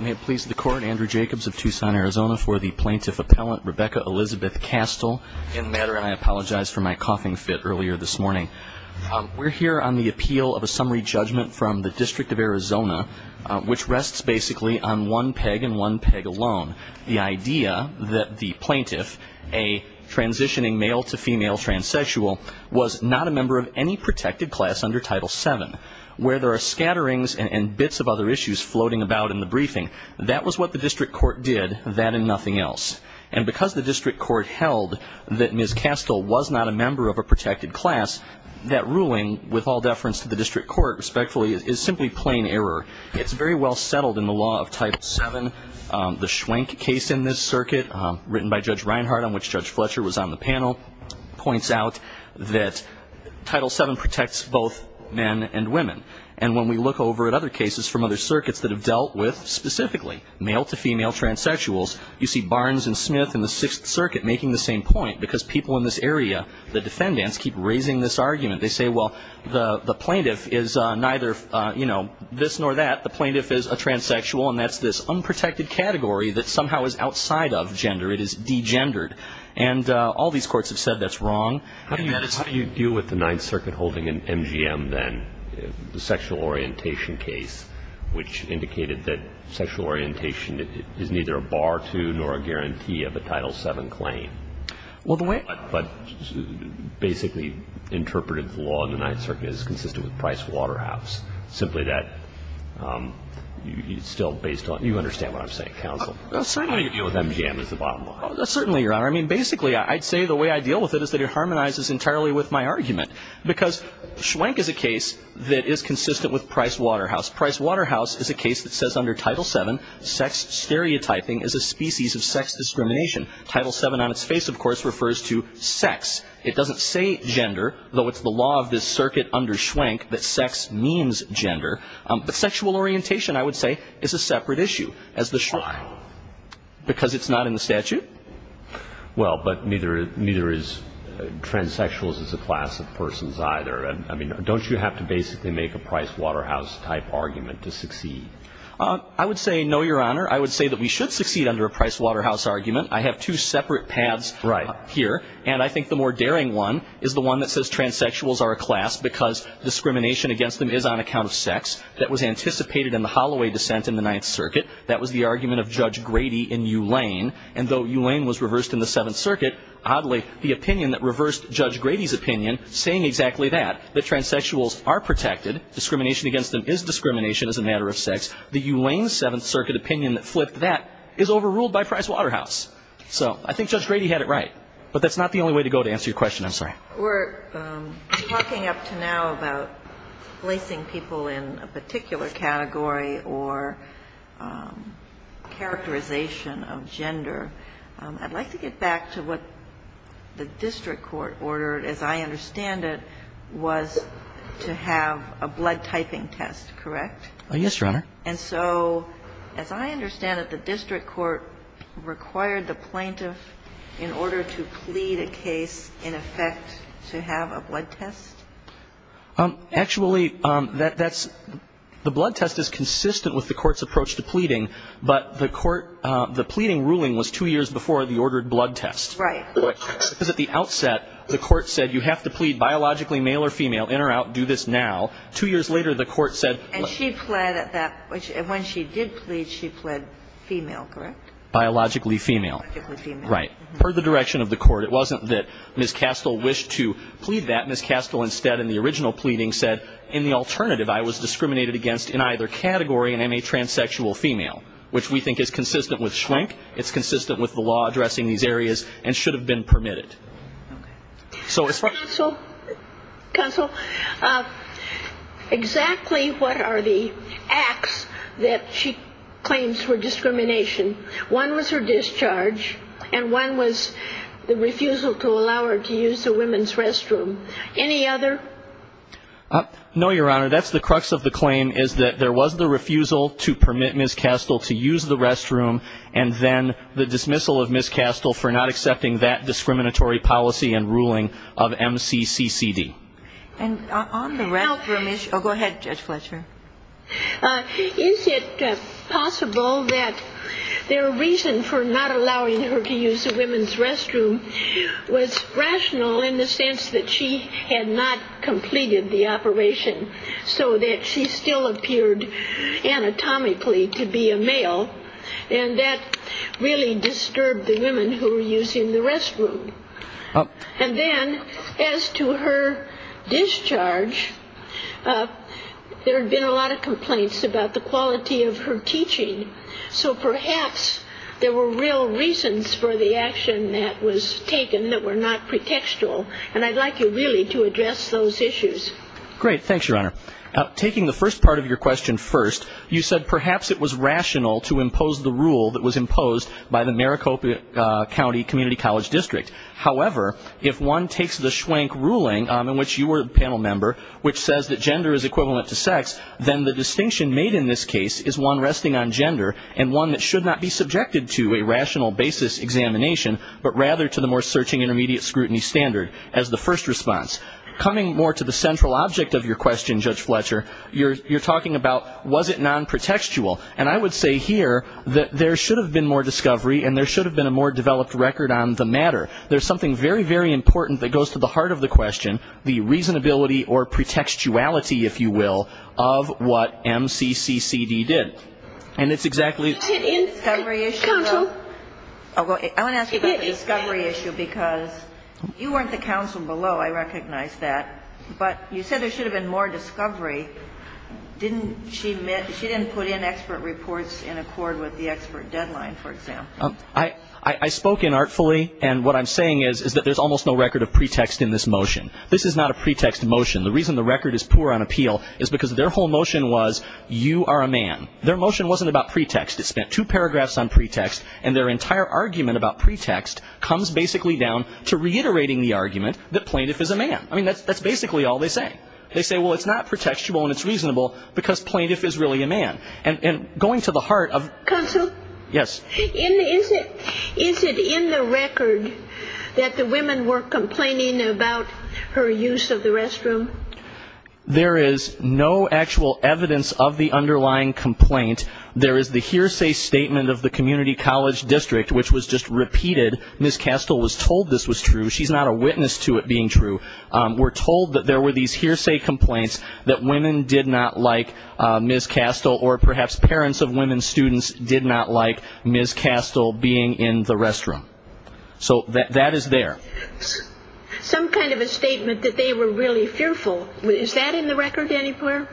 May it please the Court, Andrew Jacobs of Tucson, Arizona, for the Plaintiff Appellant, Rebecca Elizabeth Kastl, in matter, and I apologize for my coughing fit earlier this morning. We're here on the appeal of a summary judgment from the District of Arizona, which rests basically on one peg and one peg alone. The idea that the plaintiff, a transitioning male-to-female transsexual, was not a member of any protected class under Title VII, where there are scatterings and bits of other issues floating about in the briefing, that was what the district court did, that and nothing else. And because the district court held that Ms. Kastl was not a member of a protected class, that ruling, with all deference to the district court, respectfully, is simply plain error. It's very well settled in the law of Title VII. The Schwenk case in this circuit, written by Judge Reinhardt, on which Judge Fletcher was on the panel, points out that Title VII protects both men and women. And when we look over at other cases from other circuits that have dealt with, specifically, male-to-female transsexuals, you see Barnes and Smith in the Sixth Circuit making the same point, because people in this area, the defendants, keep raising this argument. They say, well, the plaintiff is neither this nor that. The plaintiff is a transsexual, and that's this unprotected category that somehow is outside of gender. It is degendered. And all these courts have said that's wrong. How do you deal with the Ninth Circuit holding an MGM, then, sexual orientation case, which indicated that sexual orientation is neither a bar to nor a guarantee of a Title VII claim, but basically interpreted the law in the Ninth Circuit as consistent with Price Waterhouse, simply that it's still based on you understand what I'm saying, counsel. Certainly. How do you deal with MGM as the bottom line? Certainly, Your Honor. I mean, basically, I'd say the way I deal with it is that it harmonizes entirely with my argument, because Schwenk is a case that is consistent with Price Waterhouse. Price Waterhouse is a case that says under Title VII, sex stereotyping is a species of sex discrimination. Title VII on its face, of course, refers to sex. It doesn't say gender, though it's the law of this circuit under Schwenk that sex means gender. But sexual orientation, I would say, is a separate issue. Why? Because it's not in the statute. Well, but neither is transsexuals as a class of persons either. I mean, don't you have to basically make a Price Waterhouse-type argument to succeed? I would say no, Your Honor. I would say that we should succeed under a Price Waterhouse argument. I have two separate paths here. Right. And I think the more daring one is the one that says transsexuals are a class because discrimination against them is on account of sex. That was anticipated in the Holloway dissent in the Ninth Circuit. That was the argument of Judge Grady in U Lane. And though U Lane was reversed in the Seventh Circuit, oddly, the opinion that reversed Judge Grady's opinion, saying exactly that, that transsexuals are protected, discrimination against them is discrimination as a matter of sex, the U Lane Seventh Circuit opinion that flipped that is overruled by Price Waterhouse. So I think Judge Grady had it right. But that's not the only way to go to answer your question, I'm sorry. We're talking up to now about placing people in a particular category or characterization of gender. I'd like to get back to what the district court ordered, as I understand it, was to have a blood typing test, correct? Yes, Your Honor. And so, as I understand it, the district court required the plaintiff, in order to plead a case, in effect, to have a blood test? Actually, the blood test is consistent with the court's approach to pleading, but the pleading ruling was two years before the ordered blood test. Right. Because at the outset, the court said you have to plead biologically, male or female, in or out, do this now. Two years later, the court said. And she pled at that, when she did plead, she pled female, correct? Biologically female. Biologically female. Right. Per the direction of the court, it wasn't that Ms. Castle wished to plead that. Ms. Castle, instead, in the original pleading, said, in the alternative, I was discriminated against in either category and am a transsexual female, which we think is consistent with Schwenk. It's consistent with the law addressing these areas and should have been permitted. Okay. Counsel, exactly what are the acts that she claims for discrimination? One was her discharge, and one was the refusal to allow her to use the women's restroom. Any other? No, Your Honor, that's the crux of the claim, is that there was the refusal to permit Ms. Castle to use the restroom, and then the dismissal of Ms. Castle for not accepting that discriminatory policy and ruling of MCCCD. And on the restroom issue, go ahead, Judge Fletcher. Is it possible that their reason for not allowing her to use the women's restroom was rational in the sense that she had not completed the operation, so that she still appeared anatomically to be a male, and that really disturbed the women who were using the restroom? And then, as to her discharge, there had been a lot of complaints about the quality of her teaching, so perhaps there were real reasons for the action that was taken that were not pretextual, and I'd like you really to address those issues. Great. Thanks, Your Honor. Taking the first part of your question first, you said perhaps it was rational to impose the rule that was imposed by the Maricopa County Community College District. However, if one takes the schwank ruling in which you were a panel member, which says that gender is equivalent to sex, then the distinction made in this case is one resting on gender, and one that should not be subjected to a rational basis examination, but rather to the more searching intermediate scrutiny standard as the first response. Coming more to the central object of your question, Judge Fletcher, you're talking about was it non-pretextual, and I would say here that there should have been more discovery and there should have been a more developed record on the matter. There's something very, very important that goes to the heart of the question, the reasonability or pretextuality, if you will, of what MCCCD did. And it's exactly the discovery issue. I want to ask you about the discovery issue because you weren't the counsel below. I recognize that. But you said there should have been more discovery. She didn't put in expert reports in accord with the expert deadline, for example. I spoke inartfully, and what I'm saying is that there's almost no record of pretext in this motion. This is not a pretext motion. The reason the record is poor on appeal is because their whole motion was you are a man. Their motion wasn't about pretext. It spent two paragraphs on pretext, and their entire argument about pretext comes basically down to reiterating the argument that plaintiff is a man. I mean, that's basically all they say. They say, well, it's not pretextual and it's reasonable because plaintiff is really a man. And going to the heart of the question. Counsel? Yes. Is it in the record that the women were complaining about her use of the restroom? There is no actual evidence of the underlying complaint. There is the hearsay statement of the community college district, which was just repeated. Ms. Castle was told this was true. She's not a witness to it being true. We're told that there were these hearsay complaints that women did not like Ms. Castle or perhaps parents of women students did not like Ms. Castle being in the restroom. So that is there. Some kind of a statement that they were really fearful. Is that in the record anywhere?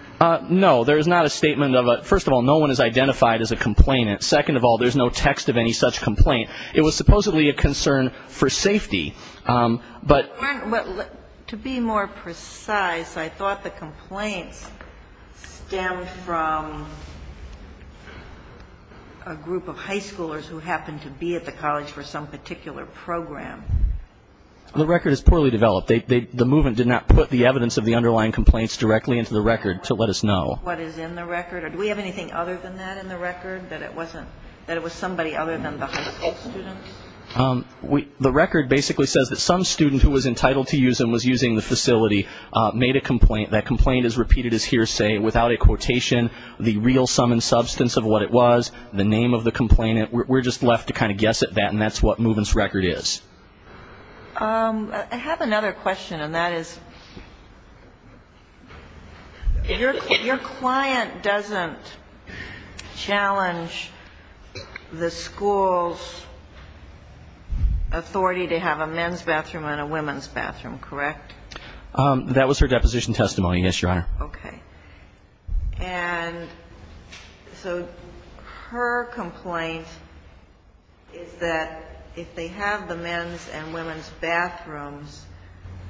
No. There is not a statement of a – first of all, no one is identified as a complainant. Second of all, there's no text of any such complaint. It was supposedly a concern for safety. To be more precise, I thought the complaints stemmed from a group of high schoolers who happened to be at the college for some particular program. The record is poorly developed. The movement did not put the evidence of the underlying complaints directly into the record to let us know. What is in the record? Do we have anything other than that in the record, that it was somebody other than the high school students? The record basically says that some student who was entitled to use and was using the facility made a complaint. That complaint is repeated as hearsay without a quotation. The real sum and substance of what it was, the name of the complainant, we're just left to kind of guess at that, and that's what movement's record is. I have another question, and that is your client doesn't challenge the school's authority to have a men's bathroom and a women's bathroom, correct? That was her deposition testimony, yes, Your Honor. Okay. And so her complaint is that if they have the men's and women's bathrooms,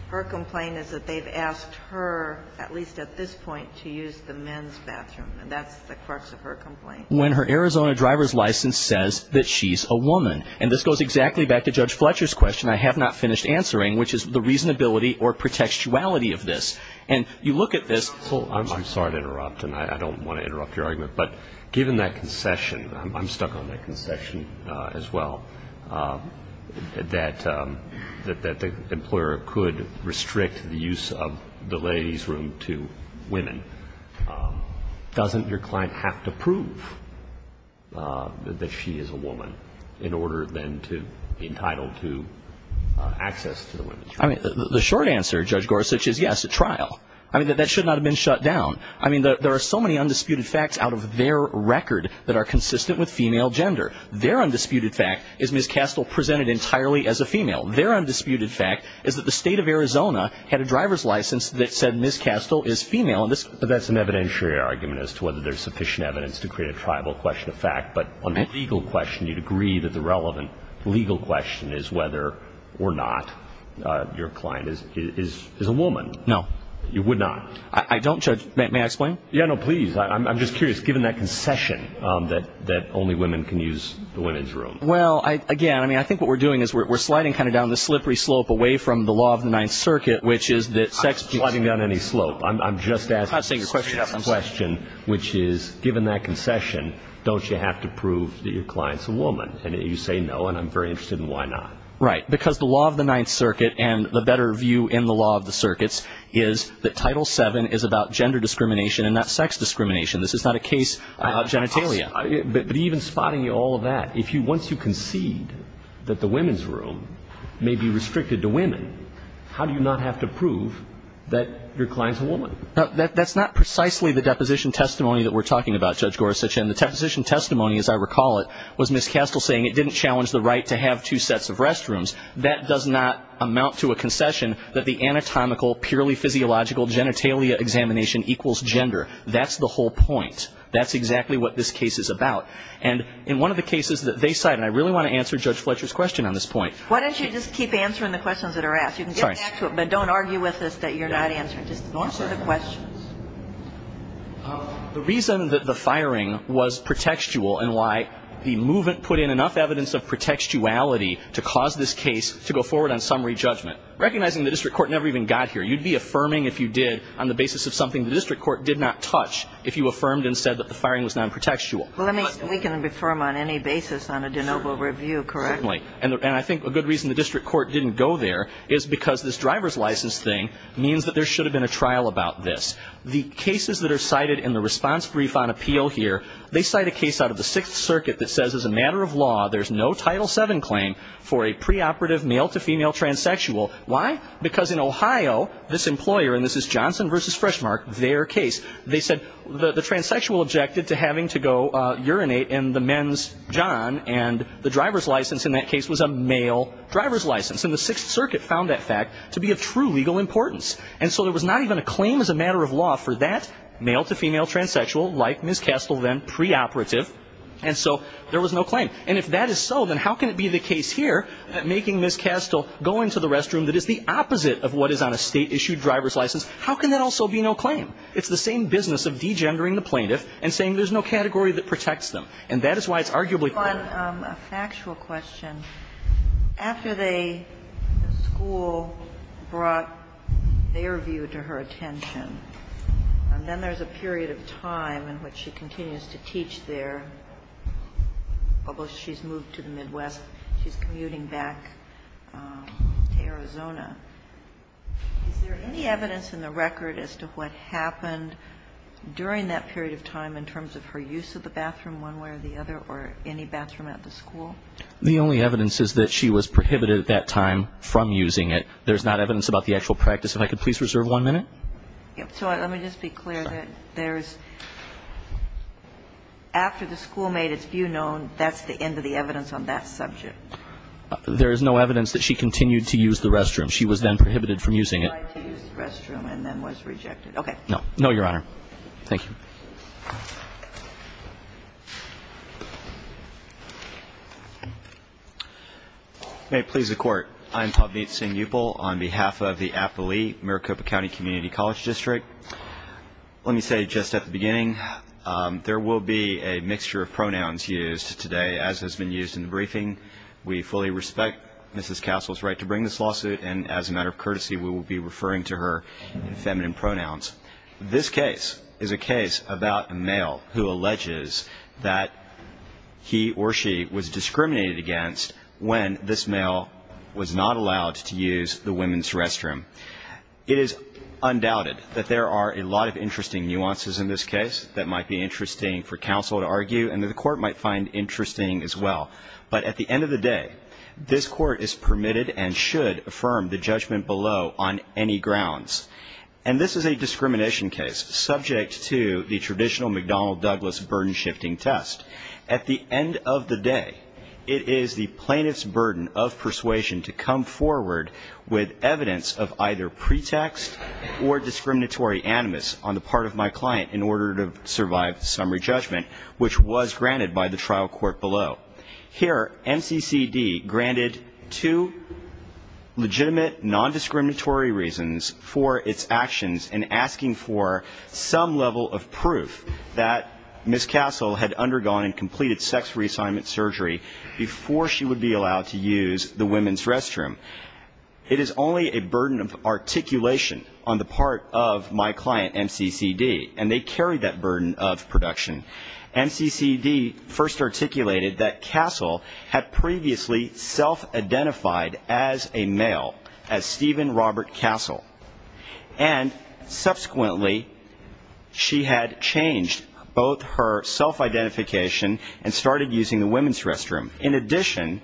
her complaint is that they've asked her, at least at this point, to use the men's bathroom, and that's the crux of her complaint. When her Arizona driver's license says that she's a woman, and this goes exactly back to Judge Fletcher's question I have not finished answering, which is the reasonability or protectuality of this, and you look at this. I'm sorry to interrupt, and I don't want to interrupt your argument, but given that concession, I'm stuck on that concession as well, that the employer could restrict the use of the ladies' room to women. Doesn't your client have to prove that she is a woman in order then to be entitled to access to the women's room? I mean, the short answer, Judge Gorsuch, is yes, a trial. I mean, that should not have been shut down. I mean, there are so many undisputed facts out of their record that are consistent with female gender. Their undisputed fact is Ms. Kastel presented entirely as a female. Their undisputed fact is that the state of Arizona had a driver's license that said Ms. Kastel is female. But that's an evidentiary argument as to whether there's sufficient evidence to create a tribal question of fact. But on the legal question, you'd agree that the relevant legal question is whether or not your client is a woman. No. You would not? I don't, Judge. May I explain? Yeah, no, please. I'm just curious, given that concession that only women can use the women's room. Well, again, I think what we're doing is we're sliding kind of down the slippery slope away from the law of the Ninth Circuit, which is that sex- I'm not sliding down any slope. I'm just asking a serious question, which is, given that concession, don't you have to prove that your client's a woman? And you say no, and I'm very interested in why not. Right, because the law of the Ninth Circuit, and the better view in the law of the circuits, is that Title VII is about gender discrimination and not sex discrimination. This is not a case about genitalia. But even spotting all of that, once you concede that the women's room may be restricted to women, how do you not have to prove that your client's a woman? That's not precisely the deposition testimony that we're talking about, Judge Gorsuch, and the deposition testimony, as I recall it, was Ms. Castle saying it didn't challenge the right to have two sets of restrooms. That does not amount to a concession that the anatomical, purely physiological genitalia examination equals gender. That's the whole point. That's exactly what this case is about. And in one of the cases that they cite, and I really want to answer Judge Fletcher's question on this point- Why don't you just keep answering the questions that are asked? You can get back to it, but don't argue with us that you're not answering. Just answer the questions. The reason that the firing was pretextual and why the movement put in enough evidence of pretextuality to cause this case to go forward on summary judgment, recognizing the district court never even got here, you'd be affirming if you did on the basis of something the district court did not touch if you affirmed and said that the firing was non-pretextual. We can affirm on any basis on a de novo review, correct? Certainly. And I think a good reason the district court didn't go there is because this driver's license thing means that there should have been a trial about this. The cases that are cited in the response brief on appeal here, they cite a case out of the Sixth Circuit that says as a matter of law, there's no Title VII claim for a preoperative male-to-female transsexual. Why? Because in Ohio, this employer, and this is Johnson v. Freshmark, their case, they said the transsexual objected to having to go urinate in the men's john, and the driver's license in that case was a male driver's license. And the Sixth Circuit found that fact to be of true legal importance. And so there was not even a claim as a matter of law for that male-to-female transsexual, like Ms. Kastel then, preoperative. And so there was no claim. And if that is so, then how can it be the case here that making Ms. Kastel go into the restroom that is the opposite of what is on a state-issued driver's license, how can that also be no claim? It's the same business of degendering the plaintiff and saying there's no category that protects them. And that is why it's arguably clear. I have a factual question. After the school brought their view to her attention, and then there's a period of time in which she continues to teach there, although she's moved to the Midwest, she's commuting back to Arizona. Is there any evidence in the record as to what happened during that period of time in terms of her use of the bathroom one way or the other or any bathroom at the school? The only evidence is that she was prohibited at that time from using it. There's not evidence about the actual practice. If I could please reserve one minute. So let me just be clear that there's – after the school made its view known, that's the end of the evidence on that subject? There is no evidence that she continued to use the restroom. She was then prohibited from using it. She tried to use the restroom and then was rejected. Okay. No, Your Honor. Thank you. May it please the Court. I'm Pavneet Singh Yupal on behalf of the Applee-Maricopa County Community College District. Let me say just at the beginning, there will be a mixture of pronouns used today, as has been used in the briefing. We fully respect Mrs. Castle's right to bring this lawsuit, and as a matter of courtesy, we will be referring to her in feminine pronouns. This case is a case about a male who alleges that he or she was discriminated against when this male was not allowed to use the women's restroom. It is undoubted that there are a lot of interesting nuances in this case that might be interesting for counsel to argue and that the Court might find interesting as well. But at the end of the day, this Court is permitted and should affirm the judgment below on any grounds. And this is a discrimination case subject to the traditional McDonnell-Douglas burden-shifting test. At the end of the day, it is the plaintiff's burden of persuasion to come forward with evidence of either pretext or discriminatory animus on the part of my client in order to survive the summary judgment, which was granted by the trial court below. Here, MCCD granted two legitimate nondiscriminatory reasons for its actions in asking for some level of proof that Mrs. Castle had undergone and completed sex reassignment surgery before she would be allowed to use the women's restroom. It is only a burden of articulation on the part of my client, MCCD, and they carry that burden of production. MCCD first articulated that Castle had previously self-identified as a male, as Stephen Robert Castle, and subsequently she had changed both her self-identification and started using the women's restroom. In addition,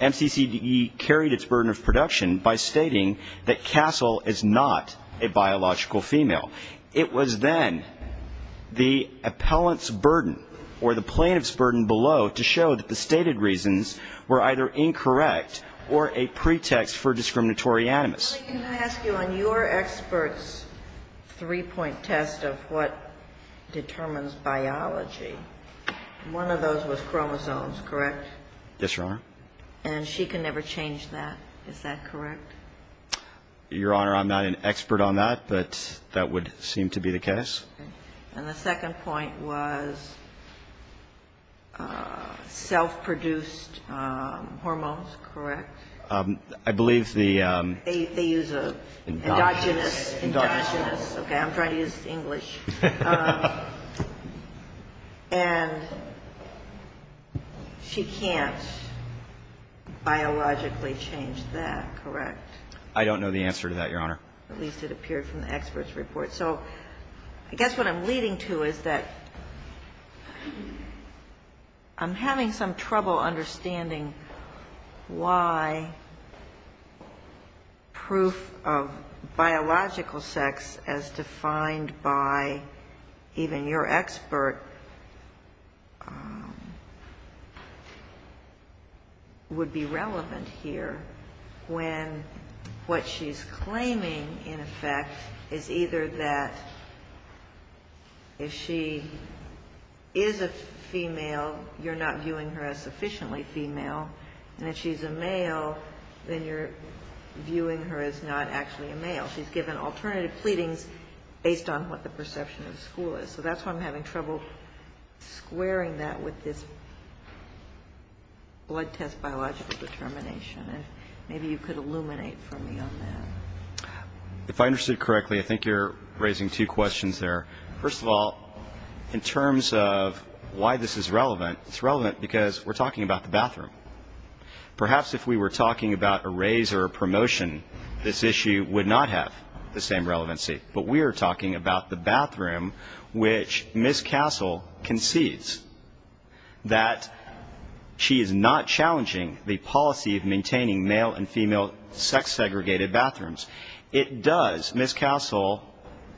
MCCD carried its burden of production by stating that Castle is not a biological female. It was then the appellant's burden or the plaintiff's burden below to show that the stated reasons were either incorrect or a pretext for discriminatory animus. Can I ask you on your expert's three-point test of what determines biology, one of those was chromosomes, correct? Yes, Your Honor. And she can never change that, is that correct? Your Honor, I'm not an expert on that, but that would seem to be the case. And the second point was self-produced hormones, correct? I believe the... They use an endogenous, okay, I'm trying to use English. And she can't biologically change that, correct? I don't know the answer to that, Your Honor. At least it appeared from the expert's report. So I guess what I'm leading to is that I'm having some trouble understanding why proof of biological sex as defined by even your expert would be relevant here when what she's claiming, in effect, is either that if she is a female, you're not viewing her as sufficiently female, and if she's a male, then you're viewing her as not actually a male. She's given alternative pleadings based on what the perception of the school is. So that's why I'm having trouble squaring that with this blood test biological determination. Maybe you could illuminate for me on that. If I understood correctly, I think you're raising two questions there. First of all, in terms of why this is relevant, it's relevant because we're talking about the bathroom. Perhaps if we were talking about a raise or a promotion, this issue would not have the same relevancy. But we are talking about the bathroom which Ms. Castle concedes that she is not challenging the policy of maintaining male and female sex-segregated bathrooms. It does, Ms. Castle,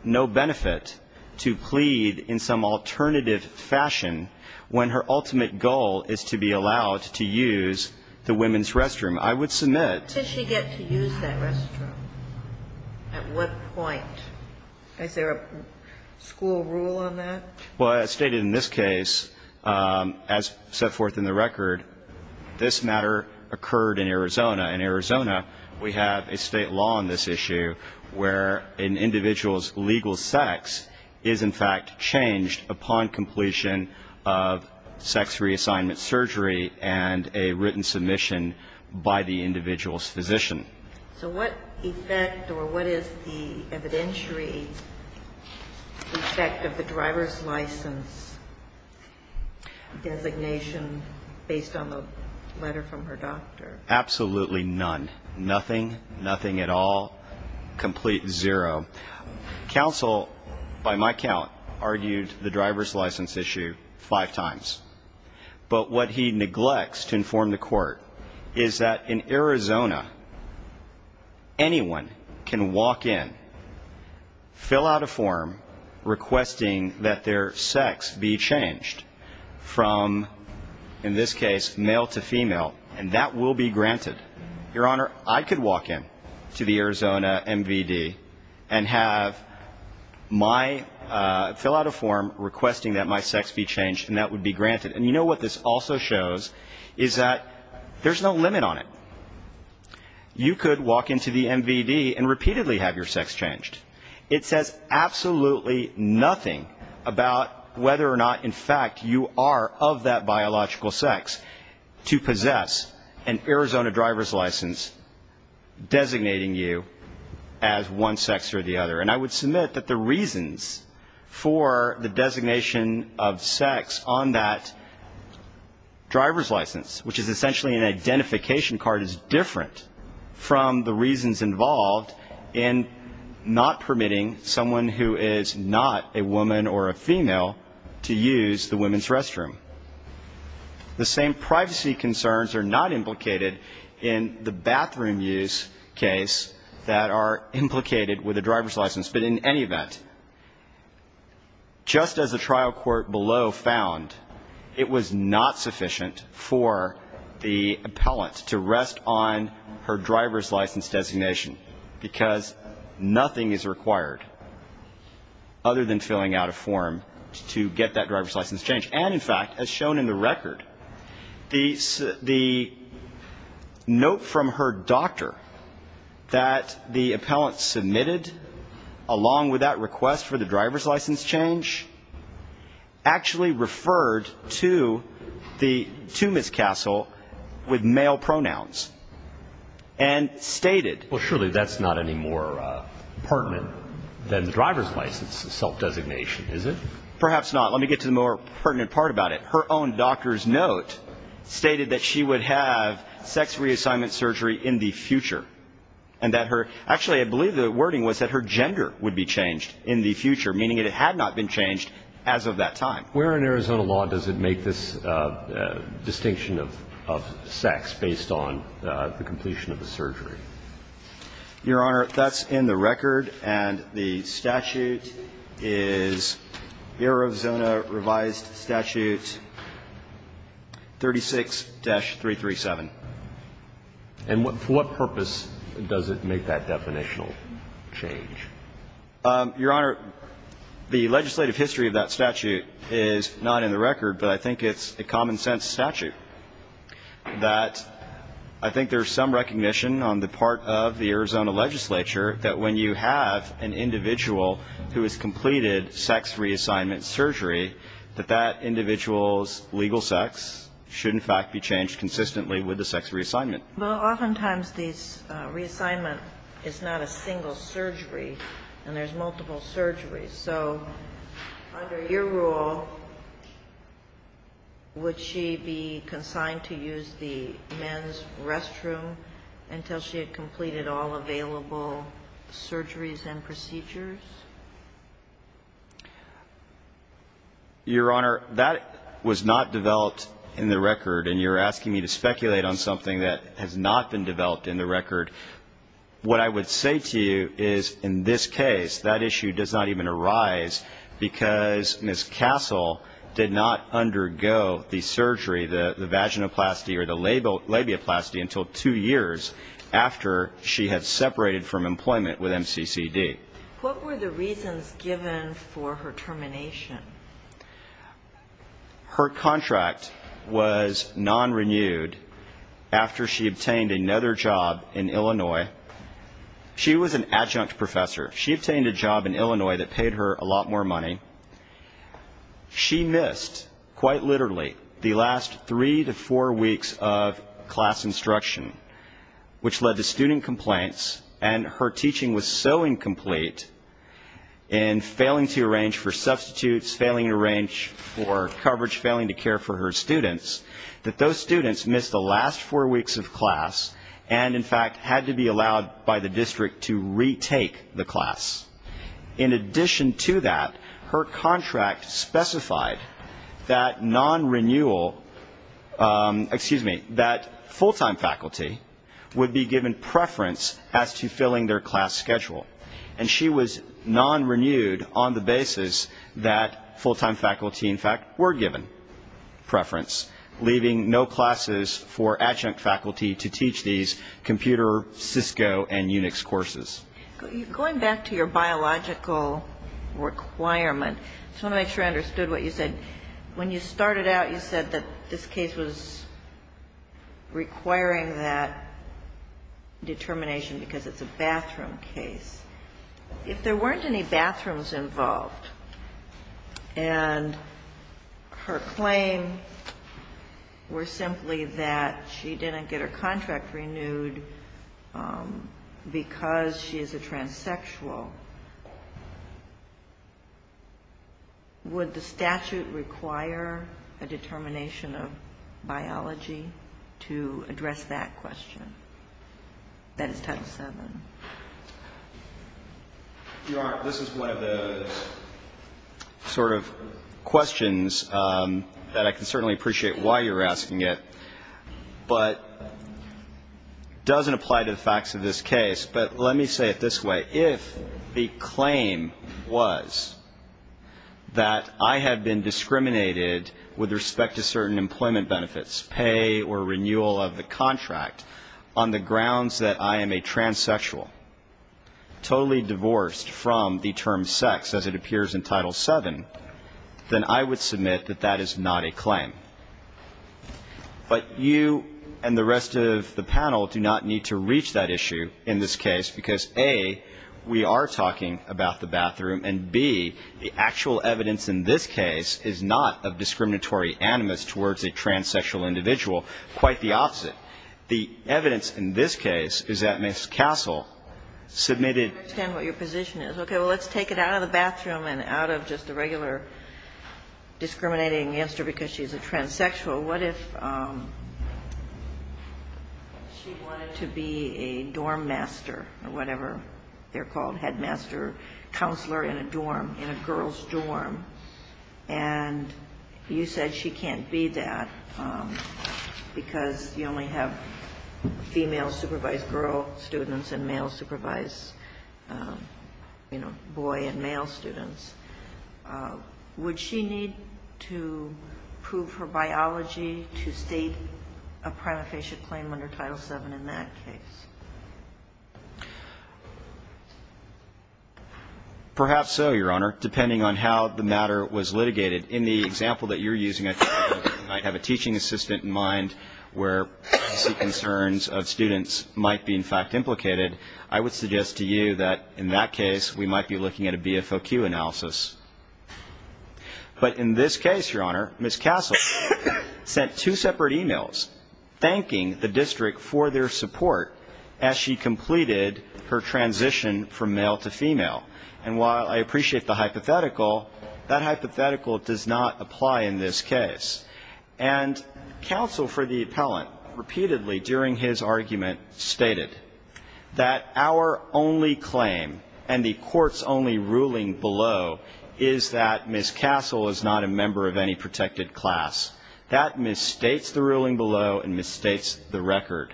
no benefit to plead in some alternative fashion when her ultimate goal is to be allowed to use the women's restroom. I would submit... What does she get to use that restroom? At what point? Is there a school rule on that? Well, as stated in this case, as set forth in the record, this matter occurred in Arizona. In Arizona, we have a state law on this issue where an individual's legal sex is in fact changed upon completion of sex reassignment surgery So what effect or what is the evidentiary effect of the driver's license designation based on the letter from her doctor? Absolutely none. Nothing. Nothing at all. Complete zero. Counsel, by my count, argued the driver's license issue five times. But what he neglects to inform the court is that in Arizona, anyone can walk in, fill out a form requesting that their sex be changed from, in this case, male to female, and that will be granted. Your Honor, I could walk in to the Arizona MVD and have my... fill out a form requesting that my sex be changed and that would be granted. And you know what this also shows is that there's no limit on it. You could walk into the MVD and repeatedly have your sex changed. It says absolutely nothing about whether or not, in fact, you are of that biological sex to possess an Arizona driver's license designating you as one sex or the other. And I would submit that the reasons for the designation of sex on that driver's license, which is essentially an identification card, is different from the reasons involved in not permitting someone who is not a woman or a female to use the women's restroom. The same privacy concerns are not implicated in the bathroom use case that are implicated with a driver's license. But in any event, just as the trial court below found, it was not sufficient for the appellant to rest on her driver's license designation, because nothing is required other than filling out a form to get that driver's license changed. And, in fact, as shown in the record, the note from her doctor that the appellant submitted along with that request for the driver's license change actually referred to Ms. Castle with male pronouns and stated... Well, surely that's not any more pertinent than the driver's license self-designation, is it? Perhaps not. Let me get to the more pertinent part about it. Her own doctor's note stated that she would have sex reassignment surgery in the future and that her... Actually, I believe the wording was that her gender would be changed in the future, meaning that it had not been changed as of that time. Where in Arizona law does it make this distinction of sex based on the completion of the surgery? Your Honor, that's in the record, and the statute is Arizona Revised Statute 36-337. And for what purpose does it make that definitional change? Your Honor, the legislative history of that statute is not in the record, but I think it's a common sense statute that I think there's some recognition on the part of the Arizona legislature that when you have an individual who has completed sex reassignment surgery, that that individual's legal sex should in fact be changed consistently with the sex reassignment. Well, oftentimes this reassignment is not a single surgery, and there's multiple surgeries. So under your rule, would she be consigned to use the men's restroom until she had completed all available surgeries and procedures? Your Honor, that was not developed in the record, and you're asking me to speculate on something that has not been developed in the record. What I would say to you is in this case, that issue does not even arise because Ms. Castle did not undergo the surgery, the vaginoplasty or the labioplasty until two years after she had separated from employment with MCCD. What were the reasons given for her termination? Her contract was non-renewed after she obtained another job in Illinois. She was an adjunct professor. She obtained a job in Illinois that paid her a lot more money. She missed, quite literally, the last three to four weeks of class instruction, which led to student complaints, and her teaching was so incomplete in failing to arrange for substitutes, failing to arrange for coverage, failing to care for her students, that those students missed the last four weeks of class and in fact had to be allowed by the district to retake the class. In addition to that, her contract specified that non-renewal, excuse me, that full-time faculty would be given preference as to filling their class schedule, and she was non-renewed on the basis that full-time faculty, in fact, were given preference, leaving no classes for adjunct faculty to teach these computer, Cisco and Unix courses. Going back to your biological requirement, I just want to make sure I understood what you said. When you started out, you said that this case was requiring that determination because it's a bathroom case. If there weren't any bathrooms involved and her claim were simply that she didn't get her contract renewed because she is a transsexual, would the statute require a determination of biology to address that question? That is type seven. This is one of the sort of questions that I can certainly appreciate why you're asking it, but it doesn't apply to the facts of this case. But let me say it this way. If the claim was that I had been discriminated with respect to certain employment benefits, pay or renewal of the contract, on the grounds that I am a transsexual, totally divorced from the term sex, as it appears in title seven, then I would submit that that is not a claim. But you and the rest of the panel do not need to reach that issue in this case, because, A, we are talking about the bathroom, and, B, the actual evidence in this case is not of discriminatory animus towards a transsexual individual. Quite the opposite. The evidence in this case is that Ms. Cassell submitted the claim that she was a transsexual because she was a transsexual. I understand what your position is. Okay, well, let's take it out of the bathroom and out of just the regular discriminating against her because she's a transsexual. What if she wanted to be a dorm master or whatever they're called, headmaster, counselor in a dorm, in a girl's dorm, and you said she can't be that because you only have female supervised girl students and male supervised, you know, boy and male students. Does she need to prove her biology to state a prima facie claim under Title VII in that case? Perhaps so, Your Honor, depending on how the matter was litigated. In the example that you're using, I have a teaching assistant in mind where I see concerns of students might be, in fact, implicated. I would suggest to you that in that case we might be looking at a BFOQ analysis. But in this case, Your Honor, Ms. Cassell sent two separate e-mails thanking the district for their support as she completed her transition from male to female. And while I appreciate the hypothetical, that hypothetical does not apply in this case. And counsel for the appellant repeatedly during his argument stated that our only claim and the court's only ruling below is that Ms. Cassell is not a member of any protected class. That misstates the ruling below and misstates the record.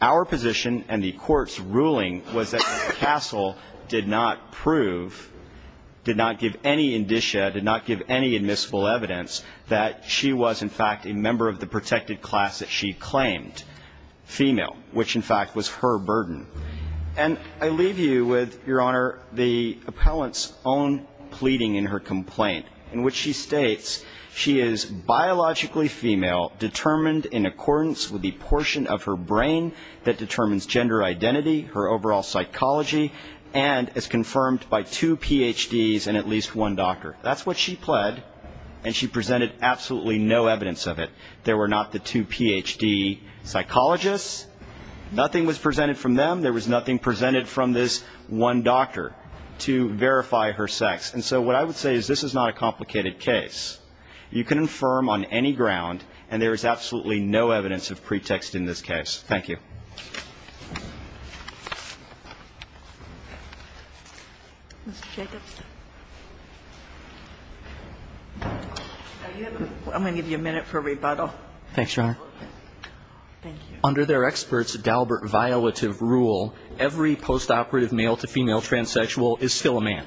Our position and the court's ruling was that Ms. Cassell did not prove, did not give any indicia, did not give any admissible evidence that she was, in fact, a member of the protected class that she claimed, female, which, in fact, was her burden. And I leave you with, Your Honor, the appellant's own pleading in her complaint in which she states she is biologically female, determined in accordance with the portion of her brain that determines gender identity, her overall psychology, and as confirmed by two PhDs and at least one doctor. That's what she pled, and she presented absolutely no evidence of it. There were not the two PhD psychologists. Nothing was presented from them. There was nothing presented from this one doctor to verify her sex. And so what I would say is this is not a complicated case. You can affirm on any ground, and there is absolutely no evidence of pretext in this case. Thank you. I'm going to give you a minute for rebuttal. Thanks, Your Honor. Under their experts' Dalbert violative rule, every postoperative male-to-female transsexual is still a man.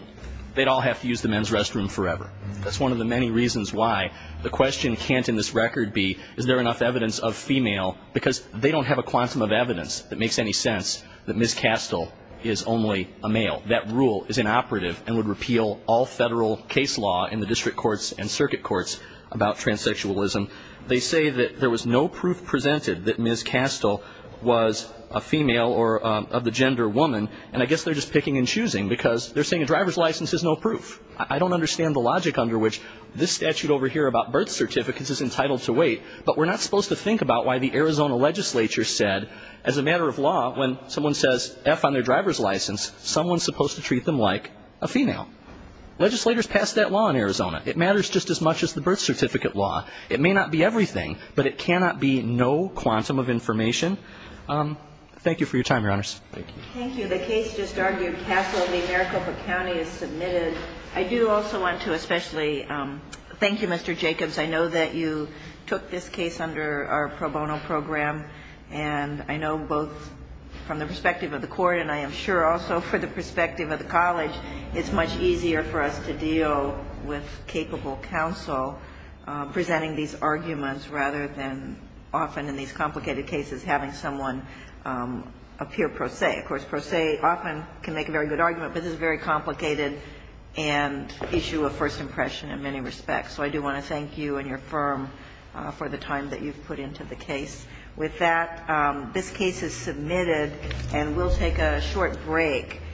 They'd all have to use the men's restroom forever. That's one of the many reasons why the question can't in this record be, is there enough evidence of female, because they don't have a quantum of evidence that makes any sense that Ms. Castile is only a male. That rule is inoperative and would repeal all federal case law in the district courts and circuit courts about transsexualism. They say that there was no proof presented that Ms. Castile was a female or of the gender woman, and I guess they're just picking and choosing, because they're saying a driver's license is no proof. I don't understand the logic under which this statute over here about birth certificates is entitled to wait, but we're not supposed to think about why the Arizona legislature said, as a matter of law, when someone says F on their driver's license, someone's supposed to treat them like a female. Legislators pass that law in Arizona. It matters just as much as the birth certificate law. It may not be everything, but it cannot be no quantum of information. Thank you for your time, Your Honors. Thank you. The case just argued, Castile v. Maricopa County, is submitted. I do also want to especially thank you, Mr. Jacobs. I know that you took this case under our pro bono program, and I know both from the perspective of the court and I am sure also from the perspective of the college, it's much easier for us to deal with capable counsel presenting these arguments rather than often in these complicated cases having someone appear pro se. Of course, pro se often can make a very good argument, but this is very complicated and issue a first impression in many respects. So I do want to thank you and your firm for the time that you've put into the case. With that, this case is submitted, and we'll take a short break.